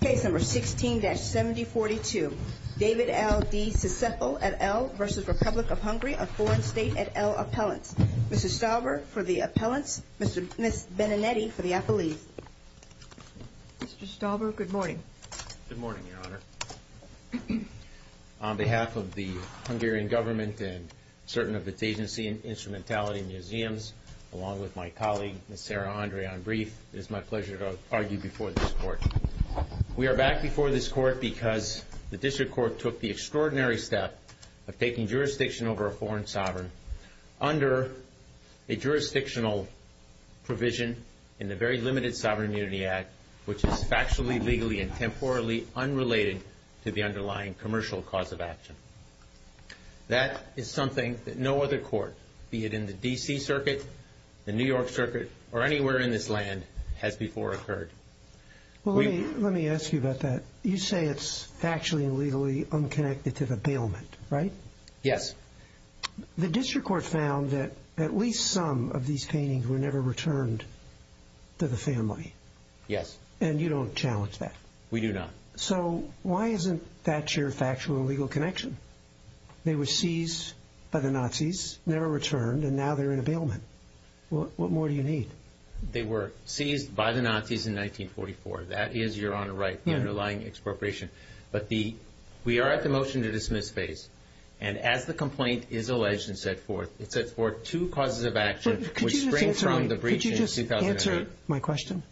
Case number 16-7042, David L. De Csepel et al. v. Republic of Hungary, a foreign state et al. appellant. Mr. Stalber for the appellants, Ms. Beninetti for the appellees. Mr. Stalber, good morning. Good morning, Your Honor. On behalf of the Hungarian government and certain of its agency and instrumentality in museums, along with my colleague, Ms. Sarah Andre on brief, it is my pleasure to argue before this court. We are back before this court because the district court took the extraordinary step of taking jurisdiction over a foreign sovereign under a jurisdictional provision in the very limited Sovereign Immunity Act, which is factually, legally, and temporally unrelated to the underlying commercial cause of action. That is something that no other court, be it in the D.C. Circuit, the New York Circuit, or anywhere in this land, has before occurred. Well, let me ask you about that. You say it's factually and legally unconnected to the bailment, right? Yes. The district court found that at least some of these paintings were never returned to the family. Yes. And you don't challenge that? We do not. So why isn't that your factual and legal connection? They were seized by the Nazis, never returned, and now they're in a bailment. What more do you need? They were seized by the Nazis in 1944. That is, Your Honor, right, the underlying expropriation. But we are at the motion to dismiss phase. And as the complaint is alleged and set forth, it sets forth two causes of action which spring from the breach in 2008. Could you just answer my question?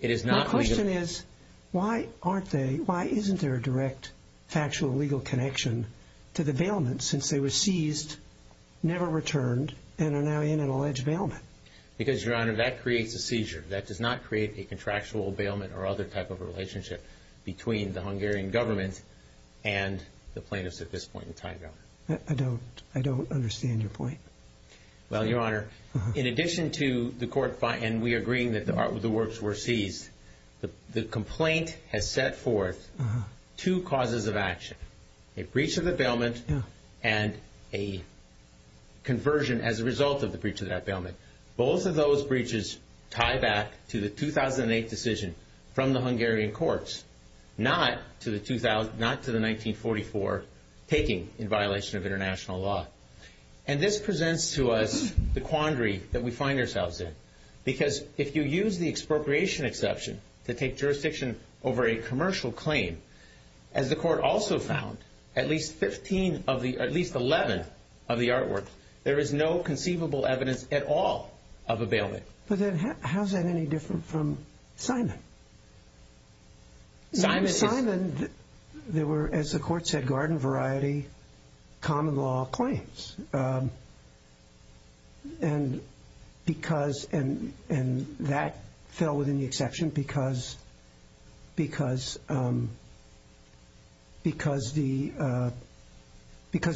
It is not legal. The question is, why aren't they, why isn't there a direct factual and legal connection to the bailment since they were seized, never returned, and are now in an alleged bailment? Because, Your Honor, that creates a seizure. That does not create a contractual bailment or other type of relationship between the Hungarian government and the plaintiffs at this point in time, Your Honor. I don't understand your point. Well, Your Honor, in addition to the court and we agreeing that the works were seized, the complaint has set forth two causes of action, a breach of the bailment and a conversion as a result of the breach of that bailment. Both of those breaches tie back to the 2008 decision from the Hungarian courts, not to the 1944 taking in violation of international law. And this presents to us the quandary that we find ourselves in because if you use the expropriation exception to take jurisdiction over a commercial claim, as the court also found, at least 11 of the artworks, there is no conceivable evidence at all of a bailment. But then how is that any different from Simon? Simon is... Simon, there were, as the court said, garden variety, common law claims. And that fell within the exception because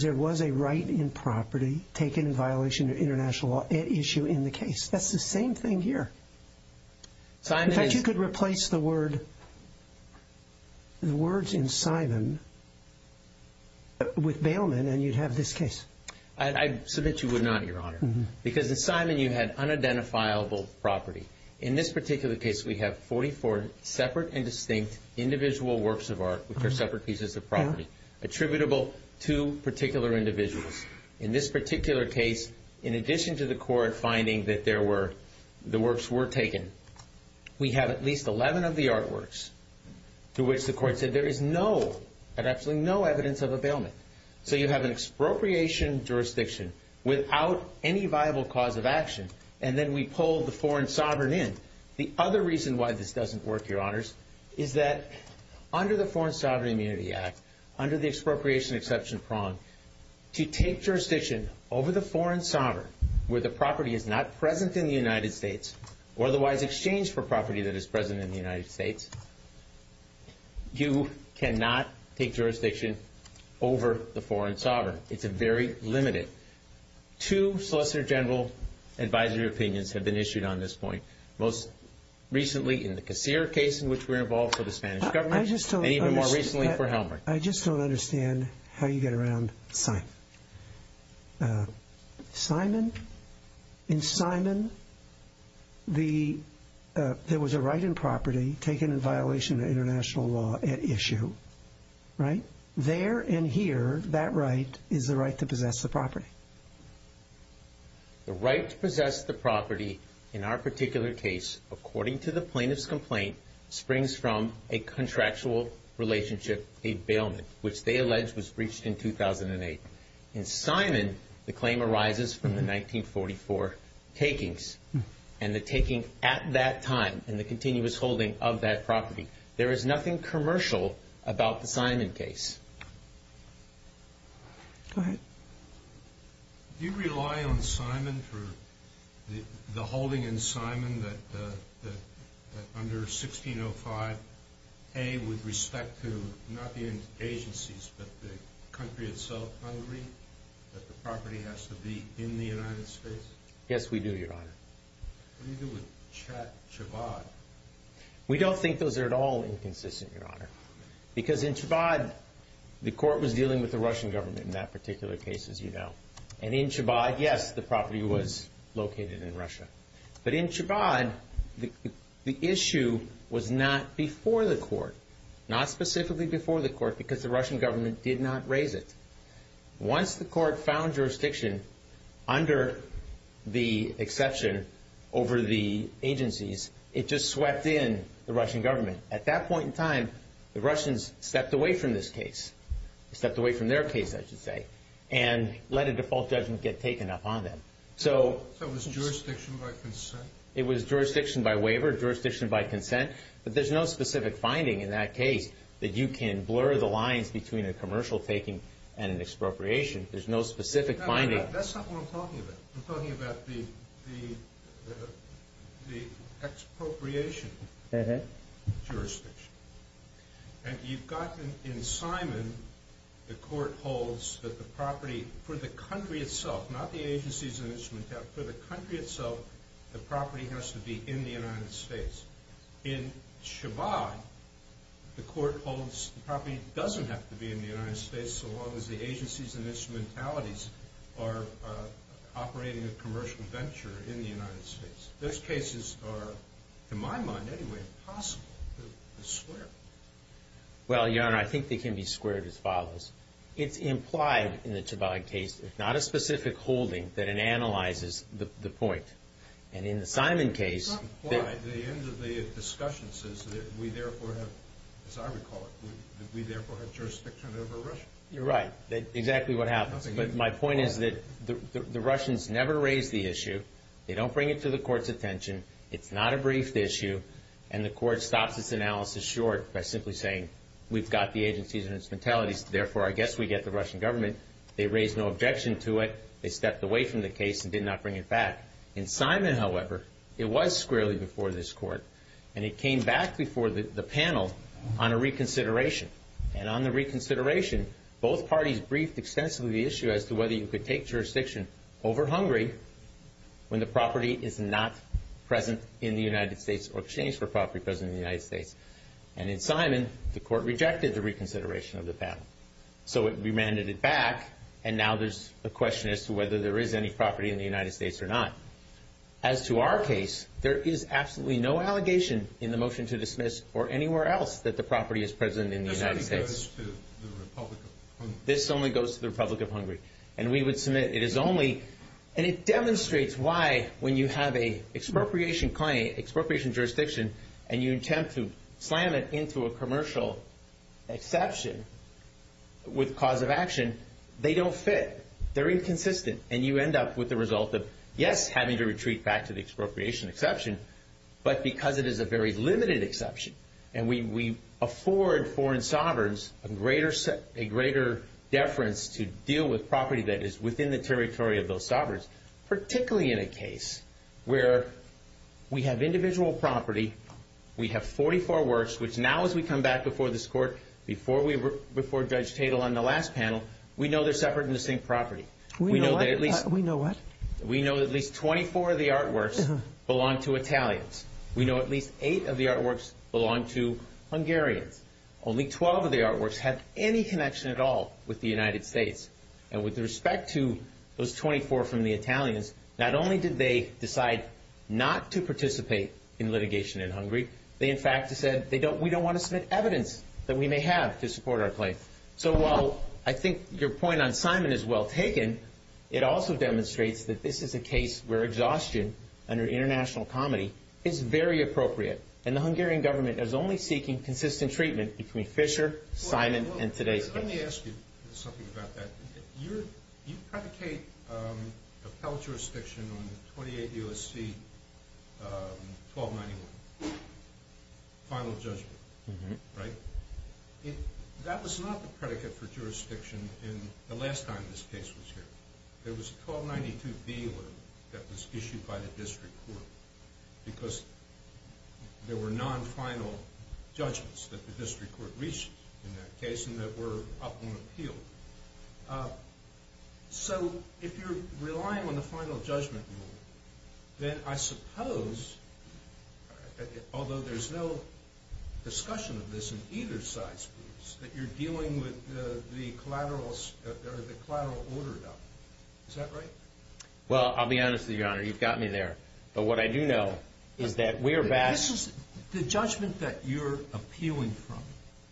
there was a right in property taken in violation of international law issue in the case. That's the same thing here. In fact, you could replace the words in Simon with bailment and you'd have this case. I submit you would not, Your Honor, because in Simon you had unidentifiable property. In this particular case, we have 44 separate and distinct individual works of art which are separate pieces of property attributable to particular individuals. In this particular case, in addition to the court finding that the works were taken, we have at least 11 of the artworks to which the court said there is no, absolutely no evidence of a bailment. So you have an expropriation jurisdiction without any viable cause of action and then we pull the foreign sovereign in. The other reason why this doesn't work, Your Honors, is that under the Foreign Sovereign Immunity Act, under the expropriation exception prong, to take jurisdiction over the foreign sovereign where the property is not present in the United States or otherwise exchanged for property that is present in the United States, you cannot take jurisdiction over the foreign sovereign. It's very limited. Two Solicitor General advisory opinions have been issued on this point, most recently in the Casir case in which we're involved for the Spanish government and even more recently for Helmer. I just don't understand how you get around Simon. In Simon, there was a right in property taken in violation of international law at issue, right? There and here, that right is the right to possess the property. The right to possess the property in our particular case, according to the plaintiff's complaint, springs from a contractual relationship, a bailment, which they allege was breached in 2008. In Simon, the claim arises from the 1944 takings and the taking at that time and the continuous holding of that property. There is nothing commercial about the Simon case. Go ahead. Do you rely on Simon for the holding in Simon that under 1605A, with respect to not the agencies but the country itself, agree that the property has to be in the United States? Yes, we do, Your Honor. What do you do with Chabad? We don't think those are at all inconsistent, Your Honor, because in Chabad, the court was dealing with the Russian government in that particular case, as you know. And in Chabad, yes, the property was located in Russia. But in Chabad, the issue was not before the court, not specifically before the court because the Russian government did not raise it. Once the court found jurisdiction under the exception over the agencies, it just swept in the Russian government. At that point in time, the Russians stepped away from this case, stepped away from their case, I should say, and let a default judgment get taken up on them. So it was jurisdiction by consent? It was jurisdiction by waiver, jurisdiction by consent. But there's no specific finding in that case that you can blur the lines between a commercial taking and an expropriation. There's no specific finding. That's not what I'm talking about. I'm talking about the expropriation jurisdiction. And you've got in Simon, the court holds that the property for the country itself, not the agencies and instrumentalities, for the country itself, the property has to be in the United States. In Chabad, the court holds the property doesn't have to be in the United States so long as the agencies and instrumentalities are operating a commercial venture in the United States. Those cases are, in my mind anyway, impossible to square. Well, Your Honor, I think they can be squared as follows. It's implied in the Chabad case, if not a specific holding, that it analyzes the point. And in the Simon case, It's not implied. The end of the discussion says that we therefore have, as I recall it, that we therefore have jurisdiction over Russia. You're right. That's exactly what happens. But my point is that the Russians never raise the issue. They don't bring it to the court's attention. It's not a brief issue. And the court stops its analysis short by simply saying we've got the agencies and instrumentalities, therefore I guess we get the Russian government. They raise no objection to it. They stepped away from the case and did not bring it back. In Simon, however, it was squarely before this court. And it came back before the panel on a reconsideration. And on the reconsideration, both parties briefed extensively the issue as to whether you could take jurisdiction over Hungary when the property is not present in the United States or exchanged for property present in the United States. And in Simon, the court rejected the reconsideration of the panel. So it remanded it back, and now there's a question as to whether there is any property in the United States or not. As to our case, there is absolutely no allegation in the motion to dismiss or anywhere else that the property is present in the United States. This only goes to the Republic of Hungary. This only goes to the Republic of Hungary. And we would submit it is only. And it demonstrates why when you have an expropriation claim, expropriation jurisdiction, and you attempt to slam it into a commercial exception with cause of action, they don't fit. They're inconsistent. And you end up with the result of, yes, having to retreat back to the expropriation exception, but because it is a very limited exception, and we afford foreign sovereigns a greater deference to deal with property that is within the territory of those sovereigns, particularly in a case where we have individual property, we have 44 works, which now as we come back before this court, before Judge Tatel on the last panel, we know they're separate and distinct property. We know that at least 24 of the artworks belong to Italians. We know at least 8 of the artworks belong to Hungarians. Only 12 of the artworks have any connection at all with the United States. And with respect to those 24 from the Italians, not only did they decide not to participate in litigation in Hungary, they in fact said we don't want to submit evidence that we may have to support our claim. So while I think your point on Simon is well taken, it also demonstrates that this is a case where exhaustion under international comedy is very appropriate, and the Hungarian government is only seeking consistent treatment between Fischer, Simon, and today's case. Let me ask you something about that. You predicate appellate jurisdiction on the 28 U.S.C. 1291 final judgment, right? That was not the predicate for jurisdiction the last time this case was here. There was a 1292B that was issued by the district court because there were non-final judgments that the district court reached in that case and that were up on appeal. So if you're relying on the final judgment rule, then I suppose, although there's no discussion of this in either side's groups, that you're dealing with the collateral order, is that right? Well, I'll be honest with you, Your Honor. You've got me there. But what I do know is that we're back. The judgment that you're appealing from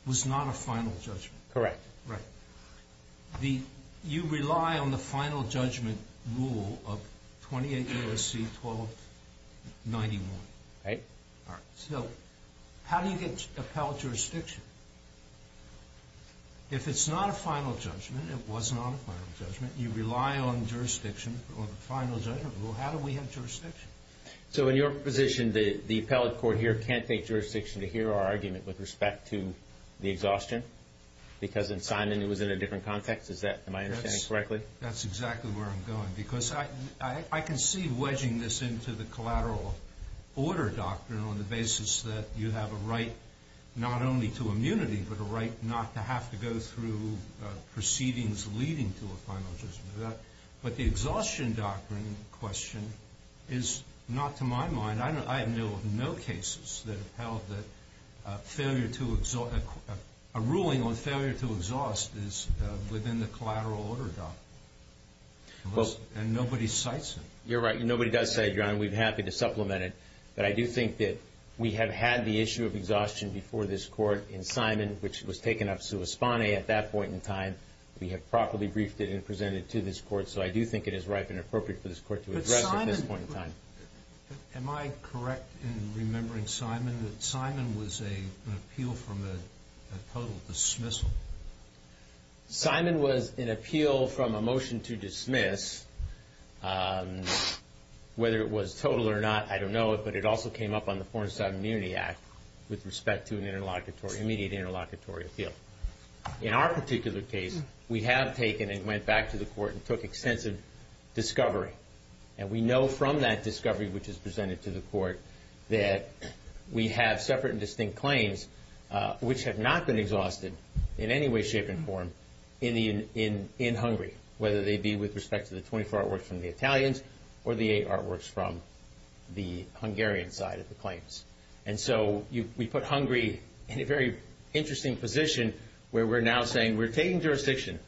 was not a final judgment. Correct. Right. You rely on the final judgment rule of 28 U.S.C. 1291. Right. So how do you get appellate jurisdiction? If it's not a final judgment, it was not a final judgment, you rely on the final judgment rule, how do we have jurisdiction? So in your position, the appellate court here can't take jurisdiction to hear our argument with respect to the exhaustion because in Simon it was in a different context? Am I understanding correctly? That's exactly where I'm going. Because I can see wedging this into the collateral order doctrine on the basis that you have a right not only to immunity, but a right not to have to go through proceedings leading to a final judgment. But the exhaustion doctrine question is not to my mind. I have no cases that have held that a ruling on failure to exhaust is within the collateral order doctrine. And nobody cites it. You're right. Nobody does cite it, John. We'd be happy to supplement it. But I do think that we have had the issue of exhaustion before this court in Simon, which was taken up sua spanae at that point in time. We have properly briefed it and presented it to this court. Am I correct in remembering Simon that Simon was an appeal from a total dismissal? Simon was an appeal from a motion to dismiss. Whether it was total or not, I don't know, but it also came up on the Foreign Submunity Act with respect to an immediate interlocutory appeal. In our particular case, we have taken and went back to the court and took extensive discovery. And we know from that discovery, which is presented to the court, that we have separate and distinct claims which have not been exhausted in any way, shape, and form in Hungary, whether they be with respect to the 24 artworks from the Italians or the eight artworks from the Hungarian side of the claims. And so we put Hungary in a very interesting position where we're now saying we're taking jurisdiction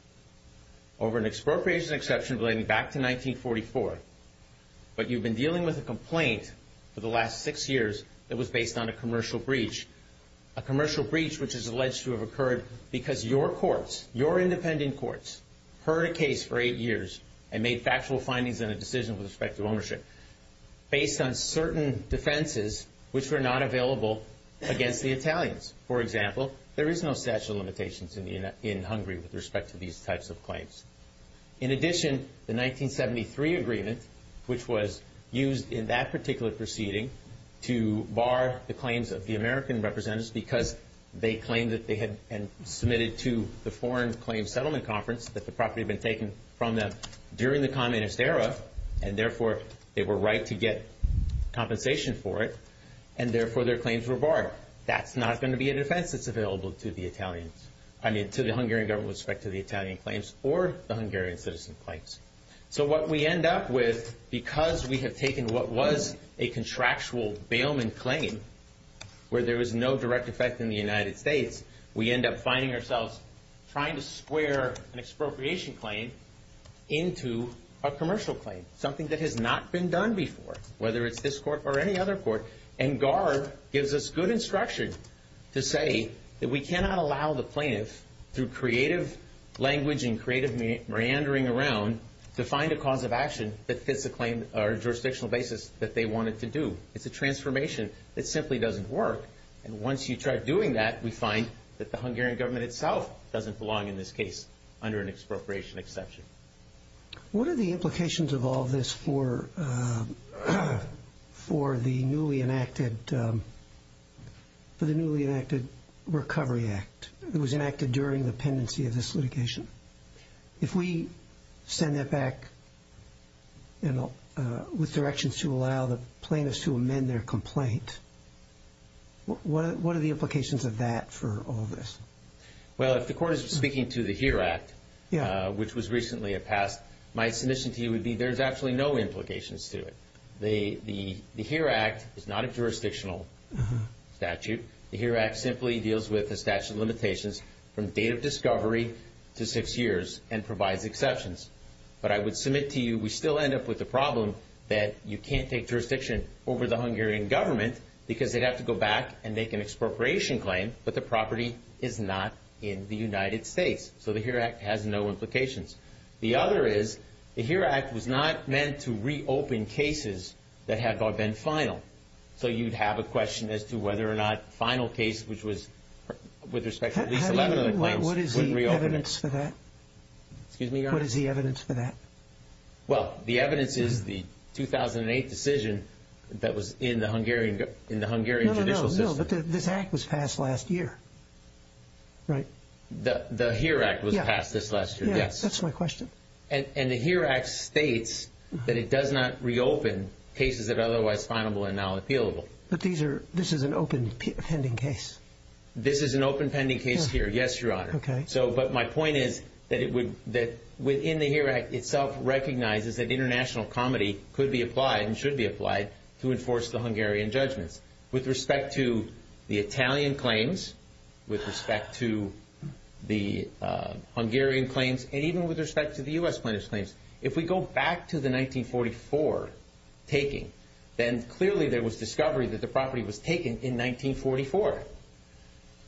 over an expropriation exception relating back to 1944, but you've been dealing with a complaint for the last six years that was based on a commercial breach, a commercial breach which is alleged to have occurred because your courts, your independent courts, heard a case for eight years and made factual findings in a decision with respect to ownership For example, there is no statute of limitations in Hungary with respect to these types of claims. In addition, the 1973 agreement, which was used in that particular proceeding, to bar the claims of the American representatives because they claimed that they had submitted to the Foreign Claims Settlement Conference that the property had been taken from them during the communist era and therefore they were right to get compensation for it, and therefore their claims were barred. That's not going to be a defense that's available to the Hungarian government with respect to the Italian claims or the Hungarian citizen claims. So what we end up with, because we have taken what was a contractual bailment claim where there was no direct effect in the United States, we end up finding ourselves trying to square an expropriation claim into a commercial claim, something that has not been done before, whether it's this court or any other court. And GAR gives us good instruction to say that we cannot allow the plaintiff, through creative language and creative meandering around, to find a cause of action that fits the claim or jurisdictional basis that they wanted to do. It's a transformation that simply doesn't work. And once you try doing that, we find that the Hungarian government itself doesn't belong in this case under an expropriation exception. What are the implications of all this for the newly enacted Recovery Act that was enacted during the pendency of this litigation? If we send that back with directions to allow the plaintiffs to amend their complaint, what are the implications of that for all this? Well, if the court is speaking to the HERE Act, which was recently passed, my submission to you would be there's actually no implications to it. The HERE Act is not a jurisdictional statute. The HERE Act simply deals with the statute of limitations from date of discovery to six years and provides exceptions. But I would submit to you we still end up with the problem that you can't take jurisdiction over the Hungarian government because they'd have to go back and make an expropriation claim, but the property is not in the United States. So the HERE Act has no implications. The other is the HERE Act was not meant to reopen cases that have been final. So you'd have a question as to whether or not final case, which was with respect to at least 11 other claims, would reopen it. What is the evidence for that? Excuse me, Your Honor? What is the evidence for that? Well, the evidence is the 2008 decision that was in the Hungarian judicial system. No, but this Act was passed last year, right? The HERE Act was passed this last year, yes. Yeah, that's my question. And the HERE Act states that it does not reopen cases that are otherwise final and now appealable. But this is an open pending case. This is an open pending case here, yes, Your Honor. Okay. But my point is that within the HERE Act itself recognizes that international comedy could be applied and should be applied to enforce the Hungarian judgments. With respect to the Italian claims, with respect to the Hungarian claims, and even with respect to the U.S. plaintiff's claims, if we go back to the 1944 taking, then clearly there was discovery that the property was taken in 1944.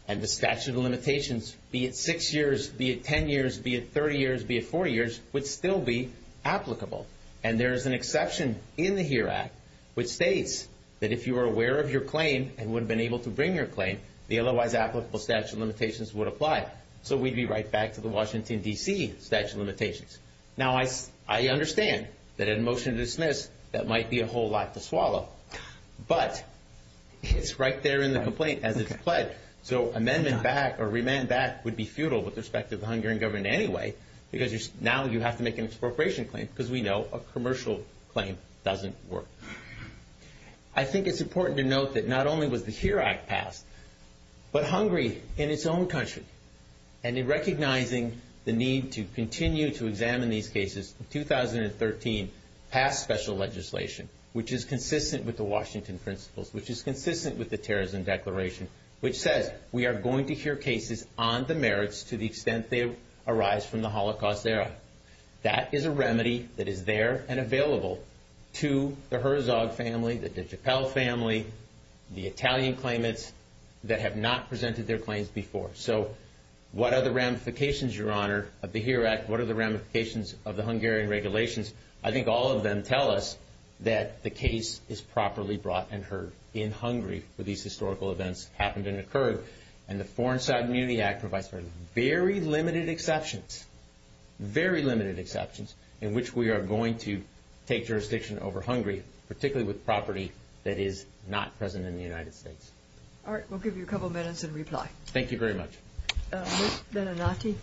And the statute of limitations, be it six years, be it 10 years, be it 30 years, be it 40 years, would still be applicable. And there is an exception in the HERE Act which states that if you were aware of your claim and would have been able to bring your claim, the otherwise applicable statute of limitations would apply. So we'd be right back to the Washington, D.C. statute of limitations. Now, I understand that in a motion to dismiss, that might be a whole lot to swallow. But it's right there in the complaint as it's pledged. So amendment back or remand back would be futile with respect to the Hungarian government anyway because now you have to make an expropriation claim because we know a commercial claim doesn't work. I think it's important to note that not only was the HERE Act passed, but Hungary in its own country, and in recognizing the need to continue to examine these cases, in 2013 passed special legislation which is consistent with the Washington principles, which is consistent with the Terrorism Declaration, which says we are going to hear cases on the merits to the extent they arise from the Holocaust era. That is a remedy that is there and available to the Herzog family, the de Gepel family, the Italian claimants that have not presented their claims before. So what are the ramifications, Your Honor, of the HERE Act? What are the ramifications of the Hungarian regulations? I think all of them tell us that the case is properly brought and heard in Hungary where these historical events happened and occurred. And the Foreign Sovereignty Act provides for very limited exceptions, very limited exceptions, in which we are going to take jurisdiction over Hungary, particularly with property that is not present in the United States. All right, we'll give you a couple of minutes in reply. Thank you very much. Ms. Benenati?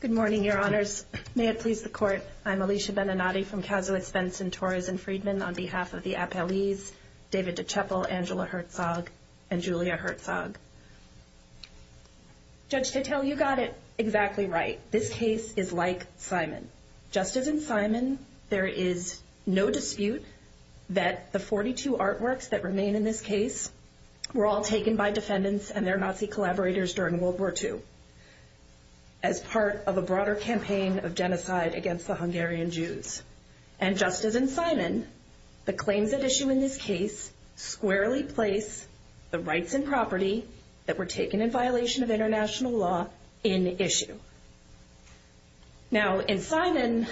Good morning, Your Honors. May it please the Court, I'm Alicia Benenati from Kazowitz, Benson, Torres & Friedman on behalf of the appellees David de Gepel, Angela Herzog, and Julia Herzog. Judge Titel, you got it exactly right. This case is like Simon. Just as in Simon, there is no dispute that the 42 artworks that remain in this case were all taken by defendants and their Nazi collaborators during World War II as part of a broader campaign of genocide against the Hungarian Jews. And just as in Simon, the claims at issue in this case squarely place the rights and property that were taken in violation of international law in issue. Now, in Simon,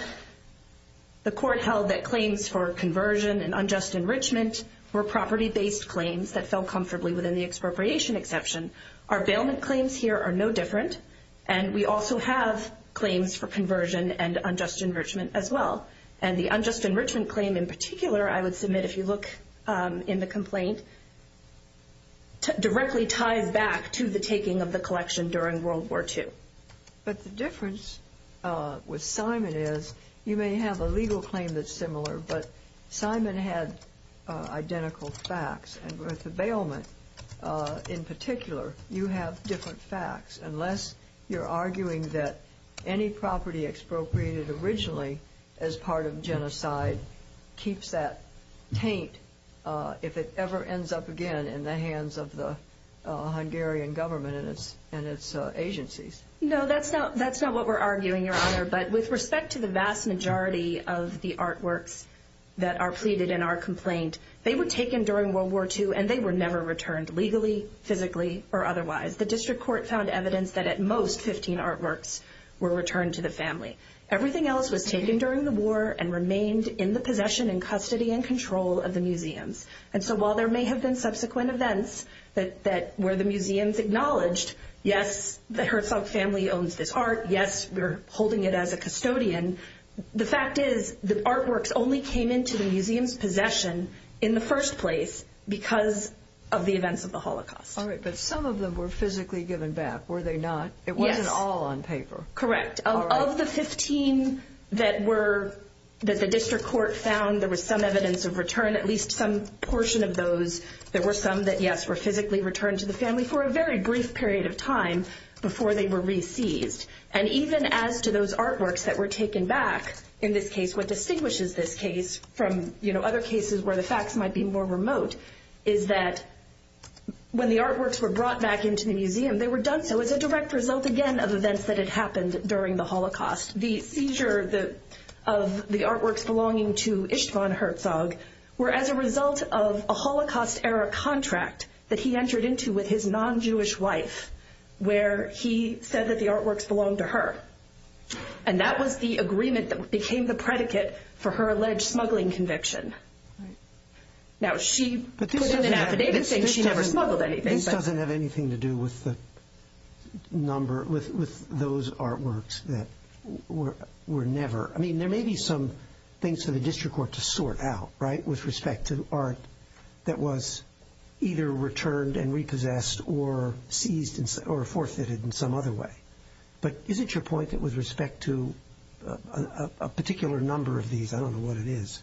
the court held that claims for conversion and unjust enrichment were property-based claims that fell comfortably within the expropriation exception. Our bailment claims here are no different, and we also have claims for conversion and unjust enrichment as well. And the unjust enrichment claim in particular, I would submit if you look in the complaint, directly ties back to the taking of the collection during World War II. But the difference with Simon is you may have a legal claim that's similar, but Simon had identical facts. And with the bailment in particular, you have different facts, unless you're arguing that any property expropriated originally as part of genocide keeps that taint if it ever ends up again in the hands of the Hungarian government and its agencies. No, that's not what we're arguing, Your Honor. But with respect to the vast majority of the artworks that are pleaded in our complaint, they were taken during World War II, and they were never returned legally, physically, or otherwise. The district court found evidence that at most 15 artworks were returned to the family. Everything else was taken during the war and remained in the possession and custody and control of the museums. And so while there may have been subsequent events where the museums acknowledged, yes, the Herzog family owns this art, yes, we're holding it as a custodian, the fact is the artworks only came into the museum's possession in the first place because of the events of the Holocaust. All right, but some of them were physically given back, were they not? Yes. It wasn't all on paper. Correct. Of the 15 that the district court found there was some evidence of return, at least some portion of those, there were some that, yes, they were physically returned to the family for a very brief period of time before they were re-seized. And even as to those artworks that were taken back, in this case, what distinguishes this case from other cases where the facts might be more remote is that when the artworks were brought back into the museum, they were done so as a direct result, again, of events that had happened during the Holocaust. The seizure of the artworks belonging to Istvan Herzog were as a result of a Holocaust-era contract that he entered into with his non-Jewish wife where he said that the artworks belonged to her, and that was the agreement that became the predicate for her alleged smuggling conviction. Now, she put it in affidavit saying she never smuggled anything. This doesn't have anything to do with the number, with those artworks that were never, I mean, there may be some things for the district court to sort out, right, with respect to art that was either returned and repossessed or seized or forfeited in some other way. But is it your point that with respect to a particular number of these, I don't know what it is,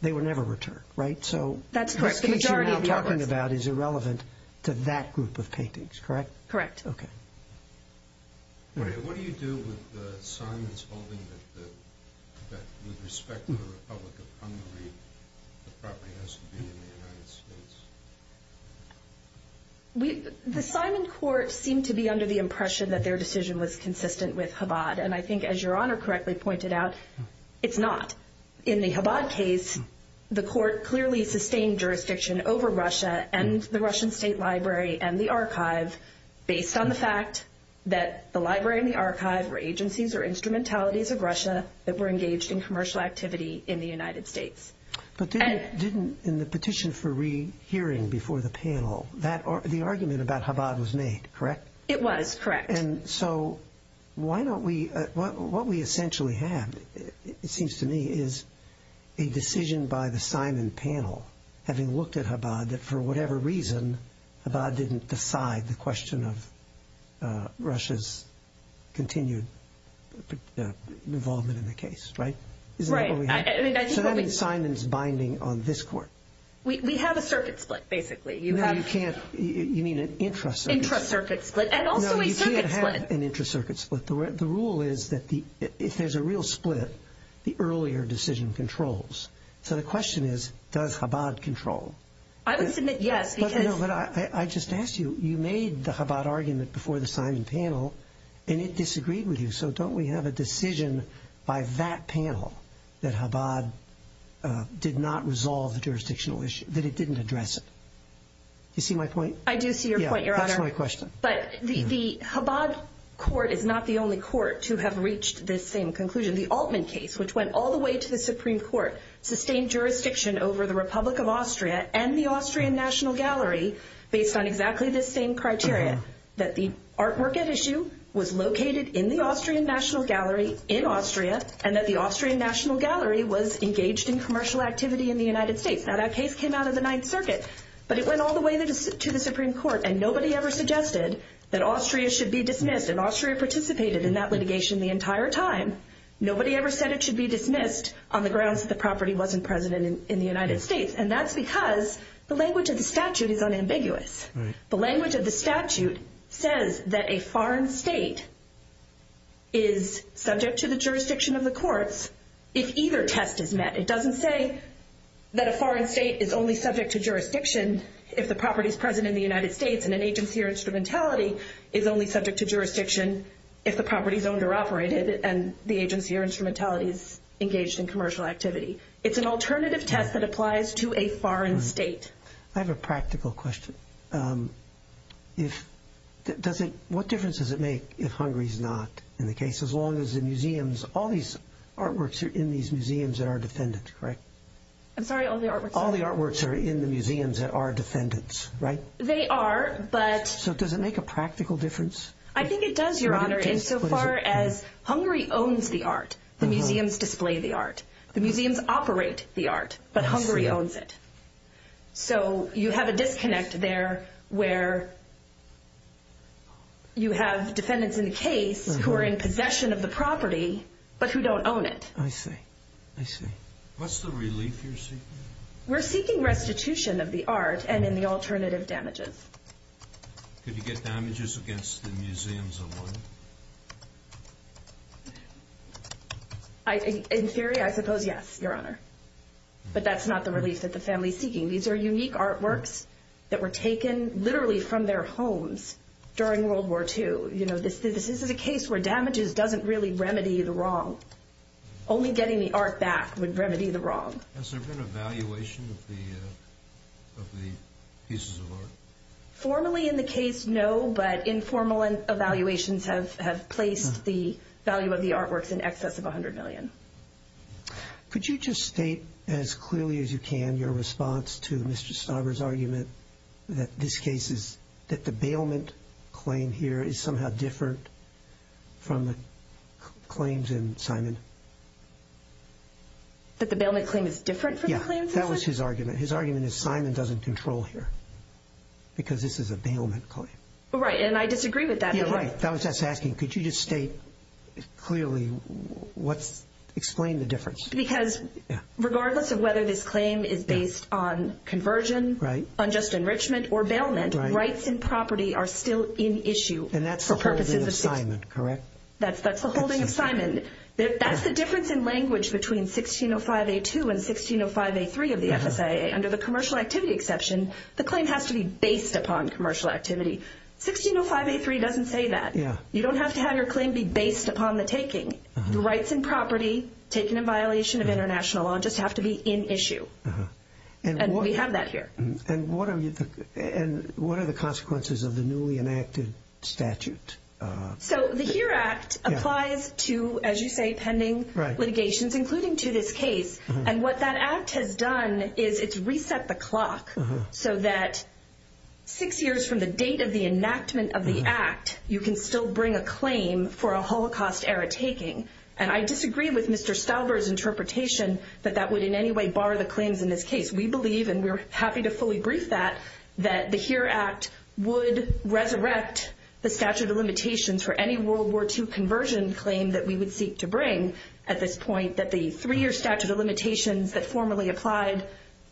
they were never returned, right? So the case you're now talking about is irrelevant to that group of paintings, correct? Correct. Maria, what do you do with the Simon's holding that with respect to the Republic of Hungary, the property has to be in the United States? The Simon court seemed to be under the impression that their decision was consistent with Chabad, and I think as Your Honor correctly pointed out, it's not. In the Chabad case, the court clearly sustained jurisdiction over Russia and the Russian State Library and the archive based on the fact that the library and the archive were agencies or instrumentalities of Russia that were engaged in commercial activity in the United States. But didn't, in the petition for rehearing before the panel, the argument about Chabad was made, correct? It was, correct. And so why don't we, what we essentially have, it seems to me, is a decision by the Simon panel, having looked at Chabad, that for whatever reason, Chabad didn't decide the question of Russia's continued involvement in the case, right? Right. So that means Simon's binding on this court. We have a circuit split, basically. No, you can't, you mean an intra-circuit split. Intra-circuit split, and also a circuit split. No, you can't have an intra-circuit split. The rule is that if there's a real split, the earlier decision controls. So the question is, does Chabad control? I would submit yes. No, but I just asked you, you made the Chabad argument before the Simon panel, and it disagreed with you, so don't we have a decision by that panel that Chabad did not resolve the jurisdictional issue, that it didn't address it? Do you see my point? I do see your point, Your Honor. Yeah, that's my question. But the Chabad court is not the only court to have reached this same conclusion. The Altman case, which went all the way to the Supreme Court, sustained jurisdiction over the Republic of Austria and the Austrian National Gallery based on exactly the same criteria, that the artwork at issue was located in the Austrian National Gallery in Austria, and that the Austrian National Gallery was engaged in commercial activity in the United States. Now that case came out of the Ninth Circuit, but it went all the way to the Supreme Court, and nobody ever suggested that Austria should be dismissed, and Austria participated in that litigation the entire time. Nobody ever said it should be dismissed on the grounds that the property wasn't present in the United States, and that's because the language of the statute is unambiguous. The language of the statute says that a foreign state is subject to the jurisdiction of the courts if either test is met. It doesn't say that a foreign state is only subject to jurisdiction if the property is present in the United States, and an agency or instrumentality is only subject to jurisdiction if the property is owned or operated, and the agency or instrumentality is engaged in commercial activity. It's an alternative test that applies to a foreign state. I have a practical question. What difference does it make if Hungary is not in the case, as long as all these artworks are in these museums that are defended, correct? I'm sorry, all the artworks? All the artworks are in the museums that are defended, right? They are, but... So does it make a practical difference? I think it does, Your Honor, insofar as Hungary owns the art. The museums display the art. The museums operate the art, but Hungary owns it. So you have a disconnect there where you have defendants in the case who are in possession of the property, but who don't own it. I see. I see. What's the relief you're seeking? We're seeking restitution of the art and in the alternative damages. Could you get damages against the museums alone? In theory, I suppose yes, Your Honor, but that's not the relief that the family is seeking. These are unique artworks that were taken literally from their homes during World War II. This is a case where damages doesn't really remedy the wrong. Only getting the art back would remedy the wrong. Has there been an evaluation of the pieces of art? Formally in the case, no, but informal evaluations have placed the value of the artworks in excess of $100 million. Could you just state as clearly as you can your response to Mr. Stauber's argument that this case is that the bailment claim here is somehow different from the claims in Simon? That the bailment claim is different from the claims in Simon? Yeah, that was his argument. His argument is Simon doesn't control here because this is a bailment claim. Right, and I disagree with that. Yeah, right. That was us asking, could you just state clearly, explain the difference? Because regardless of whether this claim is based on conversion, unjust enrichment, or bailment, rights and property are still in issue for purposes of Simon, correct? That's the holding of Simon. That's the difference in language between 1605A2 and 1605A3 of the FSIA. Under the commercial activity exception, the claim has to be based upon commercial activity. 1605A3 doesn't say that. You don't have to have your claim be based upon the taking. The rights and property taken in violation of international law just have to be in issue. And we have that here. And what are the consequences of the newly enacted statute? So the HERE Act applies to, as you say, pending litigations, including to this case. And what that act has done is it's reset the clock so that six years from the date of the enactment of the act, you can still bring a claim for a Holocaust-era taking. And I disagree with Mr. Stauber's interpretation that that would in any way bar the claims in this case. We believe, and we're happy to fully brief that, that the HERE Act would resurrect the statute of limitations for any World War II conversion claim that we would seek to bring at this point, that the three-year statute of limitations that formerly applied,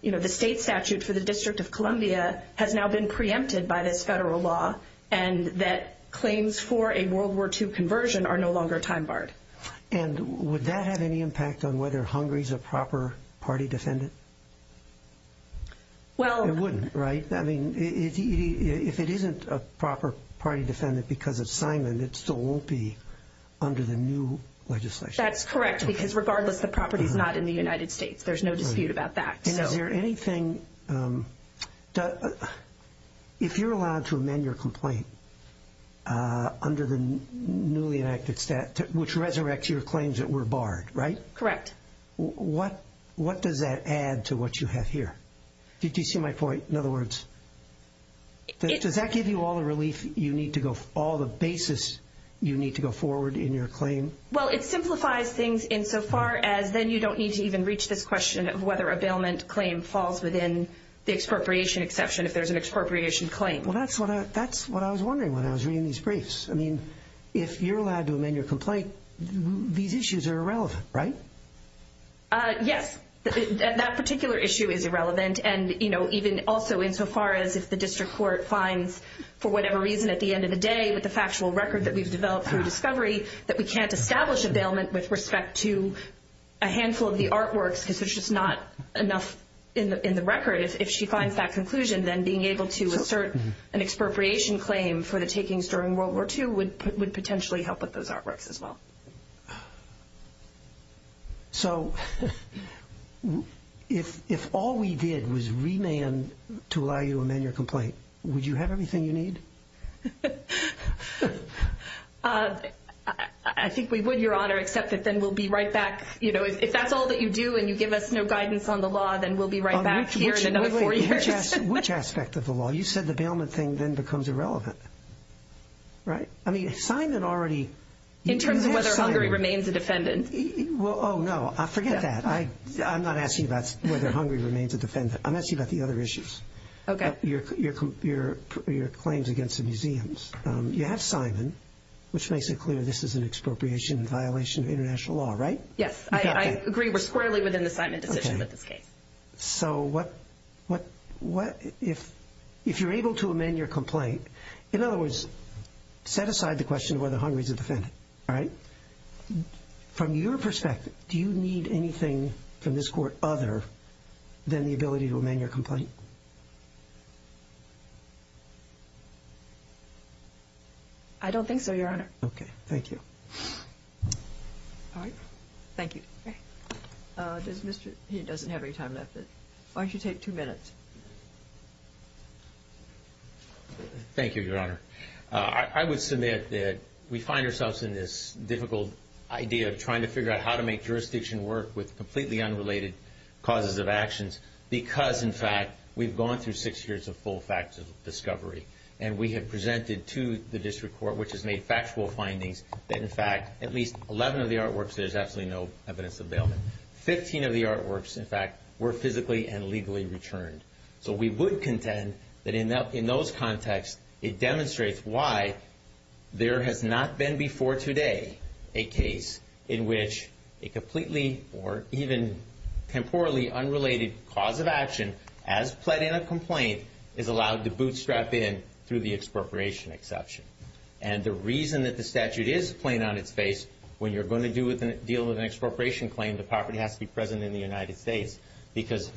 you know, the state statute for the District of Columbia has now been preempted by this federal law and that claims for a World War II conversion are no longer time-barred. And would that have any impact on whether Hungary's a proper party defendant? It wouldn't, right? I mean, if it isn't a proper party defendant because of Simon, it still won't be under the new legislation. That's correct, because regardless, the property's not in the United States. There's no dispute about that. And is there anything, if you're allowed to amend your complaint under the newly enacted statute, which resurrects your claims that were barred, right? Correct. What does that add to what you have here? Did you see my point? In other words, does that give you all the relief you need to go, all the basis you need to go forward in your claim? Well, it simplifies things insofar as then you don't need to even reach this question of whether a bailment claim falls within the expropriation exception if there's an expropriation claim. Well, that's what I was wondering when I was reading these briefs. I mean, if you're allowed to amend your complaint, these issues are irrelevant, right? Yes, that particular issue is irrelevant. And, you know, even also insofar as if the district court finds, for whatever reason, at the end of the day with the factual record that we've developed through discovery, that we can't establish a bailment with respect to a handful of the artworks because there's just not enough in the record. If she finds that conclusion, then being able to assert an expropriation claim for the takings during World War II would potentially help with those artworks as well. So if all we did was remand to allow you to amend your complaint, would you have everything you need? I think we would, Your Honor, except that then we'll be right back, you know, if that's all that you do and you give us no guidance on the law, then we'll be right back here in another four years. Which aspect of the law? You said the bailment thing then becomes irrelevant, right? In terms of whether Hungary remains a defendant. Oh, no, forget that. I'm not asking about whether Hungary remains a defendant. I'm asking about the other issues, your claims against the museums. You have Simon, which makes it clear this is an expropriation violation of international law, right? Yes, I agree we're squarely within the Simon decision in this case. So what if you're able to amend your complaint? In other words, set aside the question of whether Hungary is a defendant, all right? From your perspective, do you need anything from this court other than the ability to amend your complaint? I don't think so, Your Honor. Okay. Thank you. All right. Thank you. He doesn't have any time left. Why don't you take two minutes? Thank you, Your Honor. I would submit that we find ourselves in this difficult idea of trying to figure out how to make jurisdiction work with completely unrelated causes of actions because, in fact, we've gone through six years of full factual discovery. And we have presented to the district court, which has made factual findings, that, in fact, at least 11 of the artworks, there's absolutely no evidence of bail. Fifteen of the artworks, in fact, were physically and legally returned. So we would contend that in those contexts, it demonstrates why there has not been before today a case in which a completely or even temporally unrelated cause of action, as pled in a complaint, is allowed to bootstrap in through the expropriation exception. And the reason that the statute is plain on its face, when you're going to deal with an expropriation claim, the property has to be present in the United States because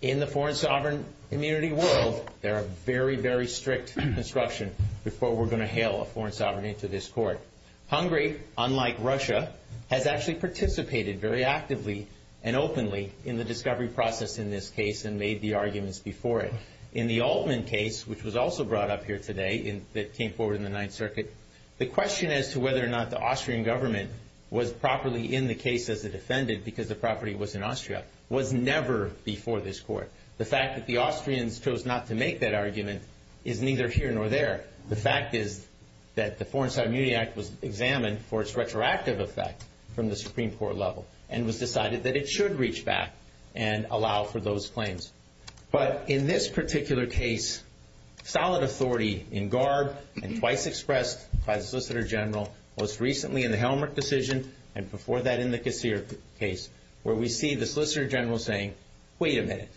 in the foreign sovereign immunity world, there are very, very strict instructions before we're going to hail a foreign sovereign into this court. Hungary, unlike Russia, has actually participated very actively and openly in the discovery process in this case and made the arguments before it. In the Altman case, which was also brought up here today, that came forward in the Ninth Circuit, the question as to whether or not the Austrian government was properly in the case as a defendant because the property was in Austria was never before this court. The fact that the Austrians chose not to make that argument is neither here nor there. The fact is that the Foreign Sovereign Immunity Act was examined for its retroactive effect from the Supreme Court level and was decided that it should reach back and allow for those claims. But in this particular case, solid authority in garb and twice expressed by the Solicitor General, most recently in the Helmholtz decision and before that in the Casir case, where we see the Solicitor General saying, wait a minute,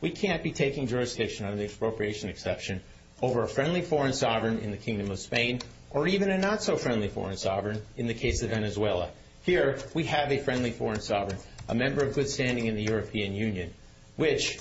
we can't be taking jurisdiction under the expropriation exception over a friendly foreign sovereign in the Kingdom of Spain or even a not-so-friendly foreign sovereign in the case of Venezuela. Here, we have a friendly foreign sovereign, a member of good standing in the European Union, which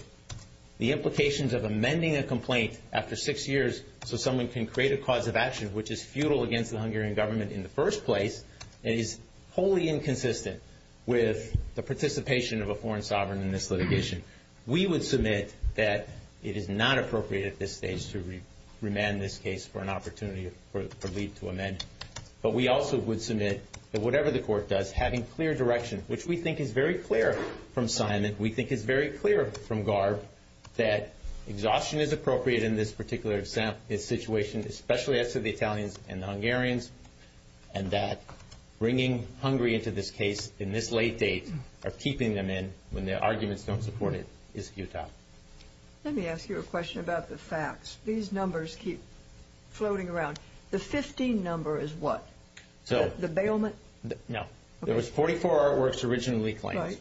the implications of amending a complaint after six years so someone can create a cause of action which is futile against the Hungarian government in the first place and is wholly inconsistent with the participation of a foreign sovereign in this litigation. We would submit that it is not appropriate at this stage to remand this case for an opportunity for leave to amend. But we also would submit that whatever the court does, having clear direction, which we think is very clear from Simon, we think is very clear from Garb, that exhaustion is appropriate in this particular situation, especially as to the Italians and the Hungarians, and that bringing Hungary into this case in this late date or keeping them in when their arguments don't support it is futile. Let me ask you a question about the facts. These numbers keep floating around. The 15 number is what? The bailment? No. There was 44 artworks originally claimed. Right.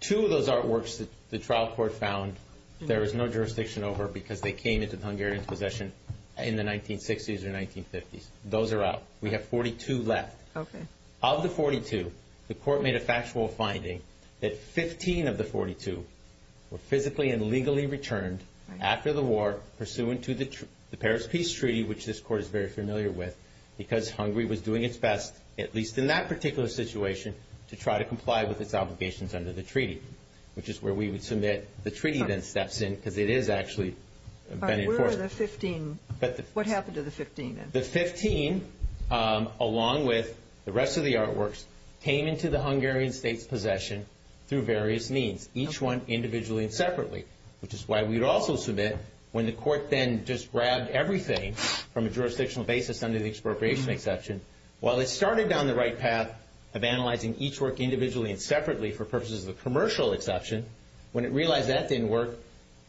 Two of those artworks the trial court found there was no jurisdiction over because they came into Hungarian possession in the 1960s or 1950s. Those are out. We have 42 left. Okay. Of the 42, the court made a factual finding that 15 of the 42 were physically and legally returned after the war pursuant to the Paris Peace Treaty, which this court is very familiar with, because Hungary was doing its best, at least in that particular situation, to try to comply with its obligations under the treaty, which is where we would submit the treaty then steps in because it is actually been enforced. Where are the 15? What happened to the 15? The 15, along with the rest of the artworks, came into the Hungarian state's possession through various means, each one individually and separately, which is why we would also submit when the court then just grabbed everything from a jurisdictional basis under the expropriation exception. While it started down the right path of analyzing each work individually and separately for purposes of a commercial exception, when it realized that didn't work,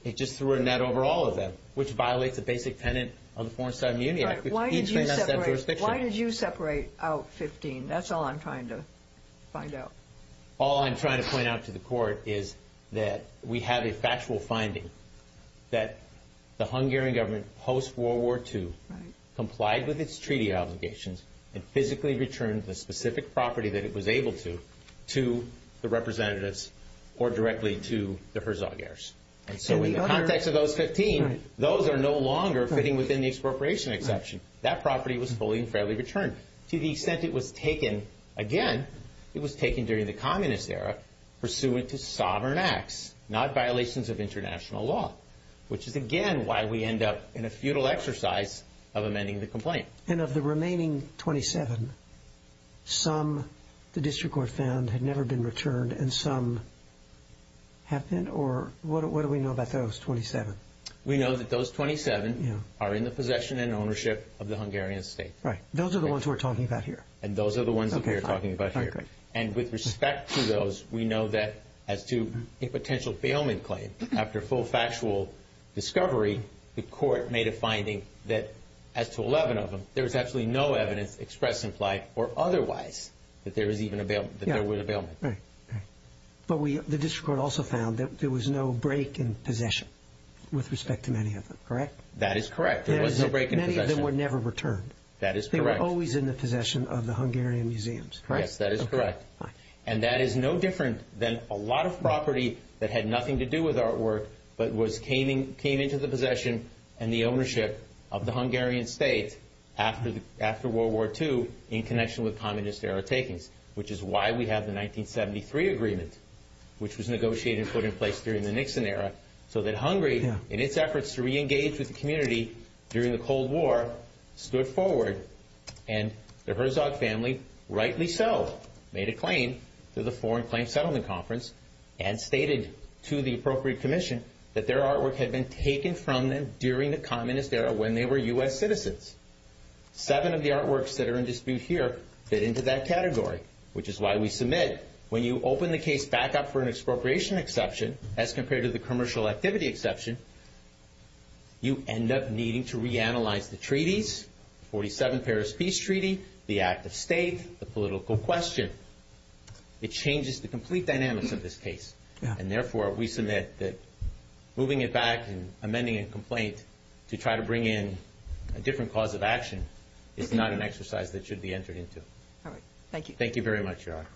it just threw a net over all of them, which violates the basic tenet of the Foreign-Side Immunity Act. Why did you separate out 15? That's all I'm trying to find out. All I'm trying to point out to the court is that we have a factual finding that the Hungarian government post-World War II complied with its treaty obligations and physically returned the specific property that it was able to to the representatives or directly to the Herzog heirs. And so in the context of those 15, those are no longer fitting within the expropriation exception. That property was fully and fairly returned to the extent it was taken, again, it was taken during the communist era, pursuant to sovereign acts, not violations of international law, which is, again, why we end up in a futile exercise of amending the complaint. And of the remaining 27, some the district court found had never been returned and some have been, or what do we know about those 27? We know that those 27 are in the possession and ownership of the Hungarian state. Right. Those are the ones we're talking about here. And those are the ones that we're talking about here. And with respect to those, we know that as to a potential bailment claim, after full factual discovery, the court made a finding that as to 11 of them, there was absolutely no evidence expressed in flight or otherwise that there was even a bailment, that there was a bailment. But the district court also found that there was no break in possession with respect to many of them, correct? That is correct. There was no break in possession. Many of them were never returned. That is correct. They were always in the possession of the Hungarian museums, correct? Yes, that is correct. And that is no different than a lot of property that had nothing to do with artwork but came into the possession and the ownership of the Hungarian state after World War II in connection with communist-era takings, which is why we have the 1973 agreement, which was negotiated and put in place during the Nixon era, so that Hungary, in its efforts to reengage with the community during the Cold War, stood forward and the Herzog family, rightly so, made a claim to the Foreign Claim Settlement Conference and stated to the appropriate commission that their artwork had been taken from them during the communist era when they were U.S. citizens. Seven of the artworks that are in dispute here fit into that category, which is why we submit, when you open the case back up for an expropriation exception, as compared to the commercial activity exception, you end up needing to reanalyze the treaties, the 1947 Paris Peace Treaty, the act of state, the political question. It changes the complete dynamics of this case, and therefore we submit that moving it back and amending a complaint to try to bring in a different cause of action is not an exercise that should be entered into. Thank you very much, Your Honor.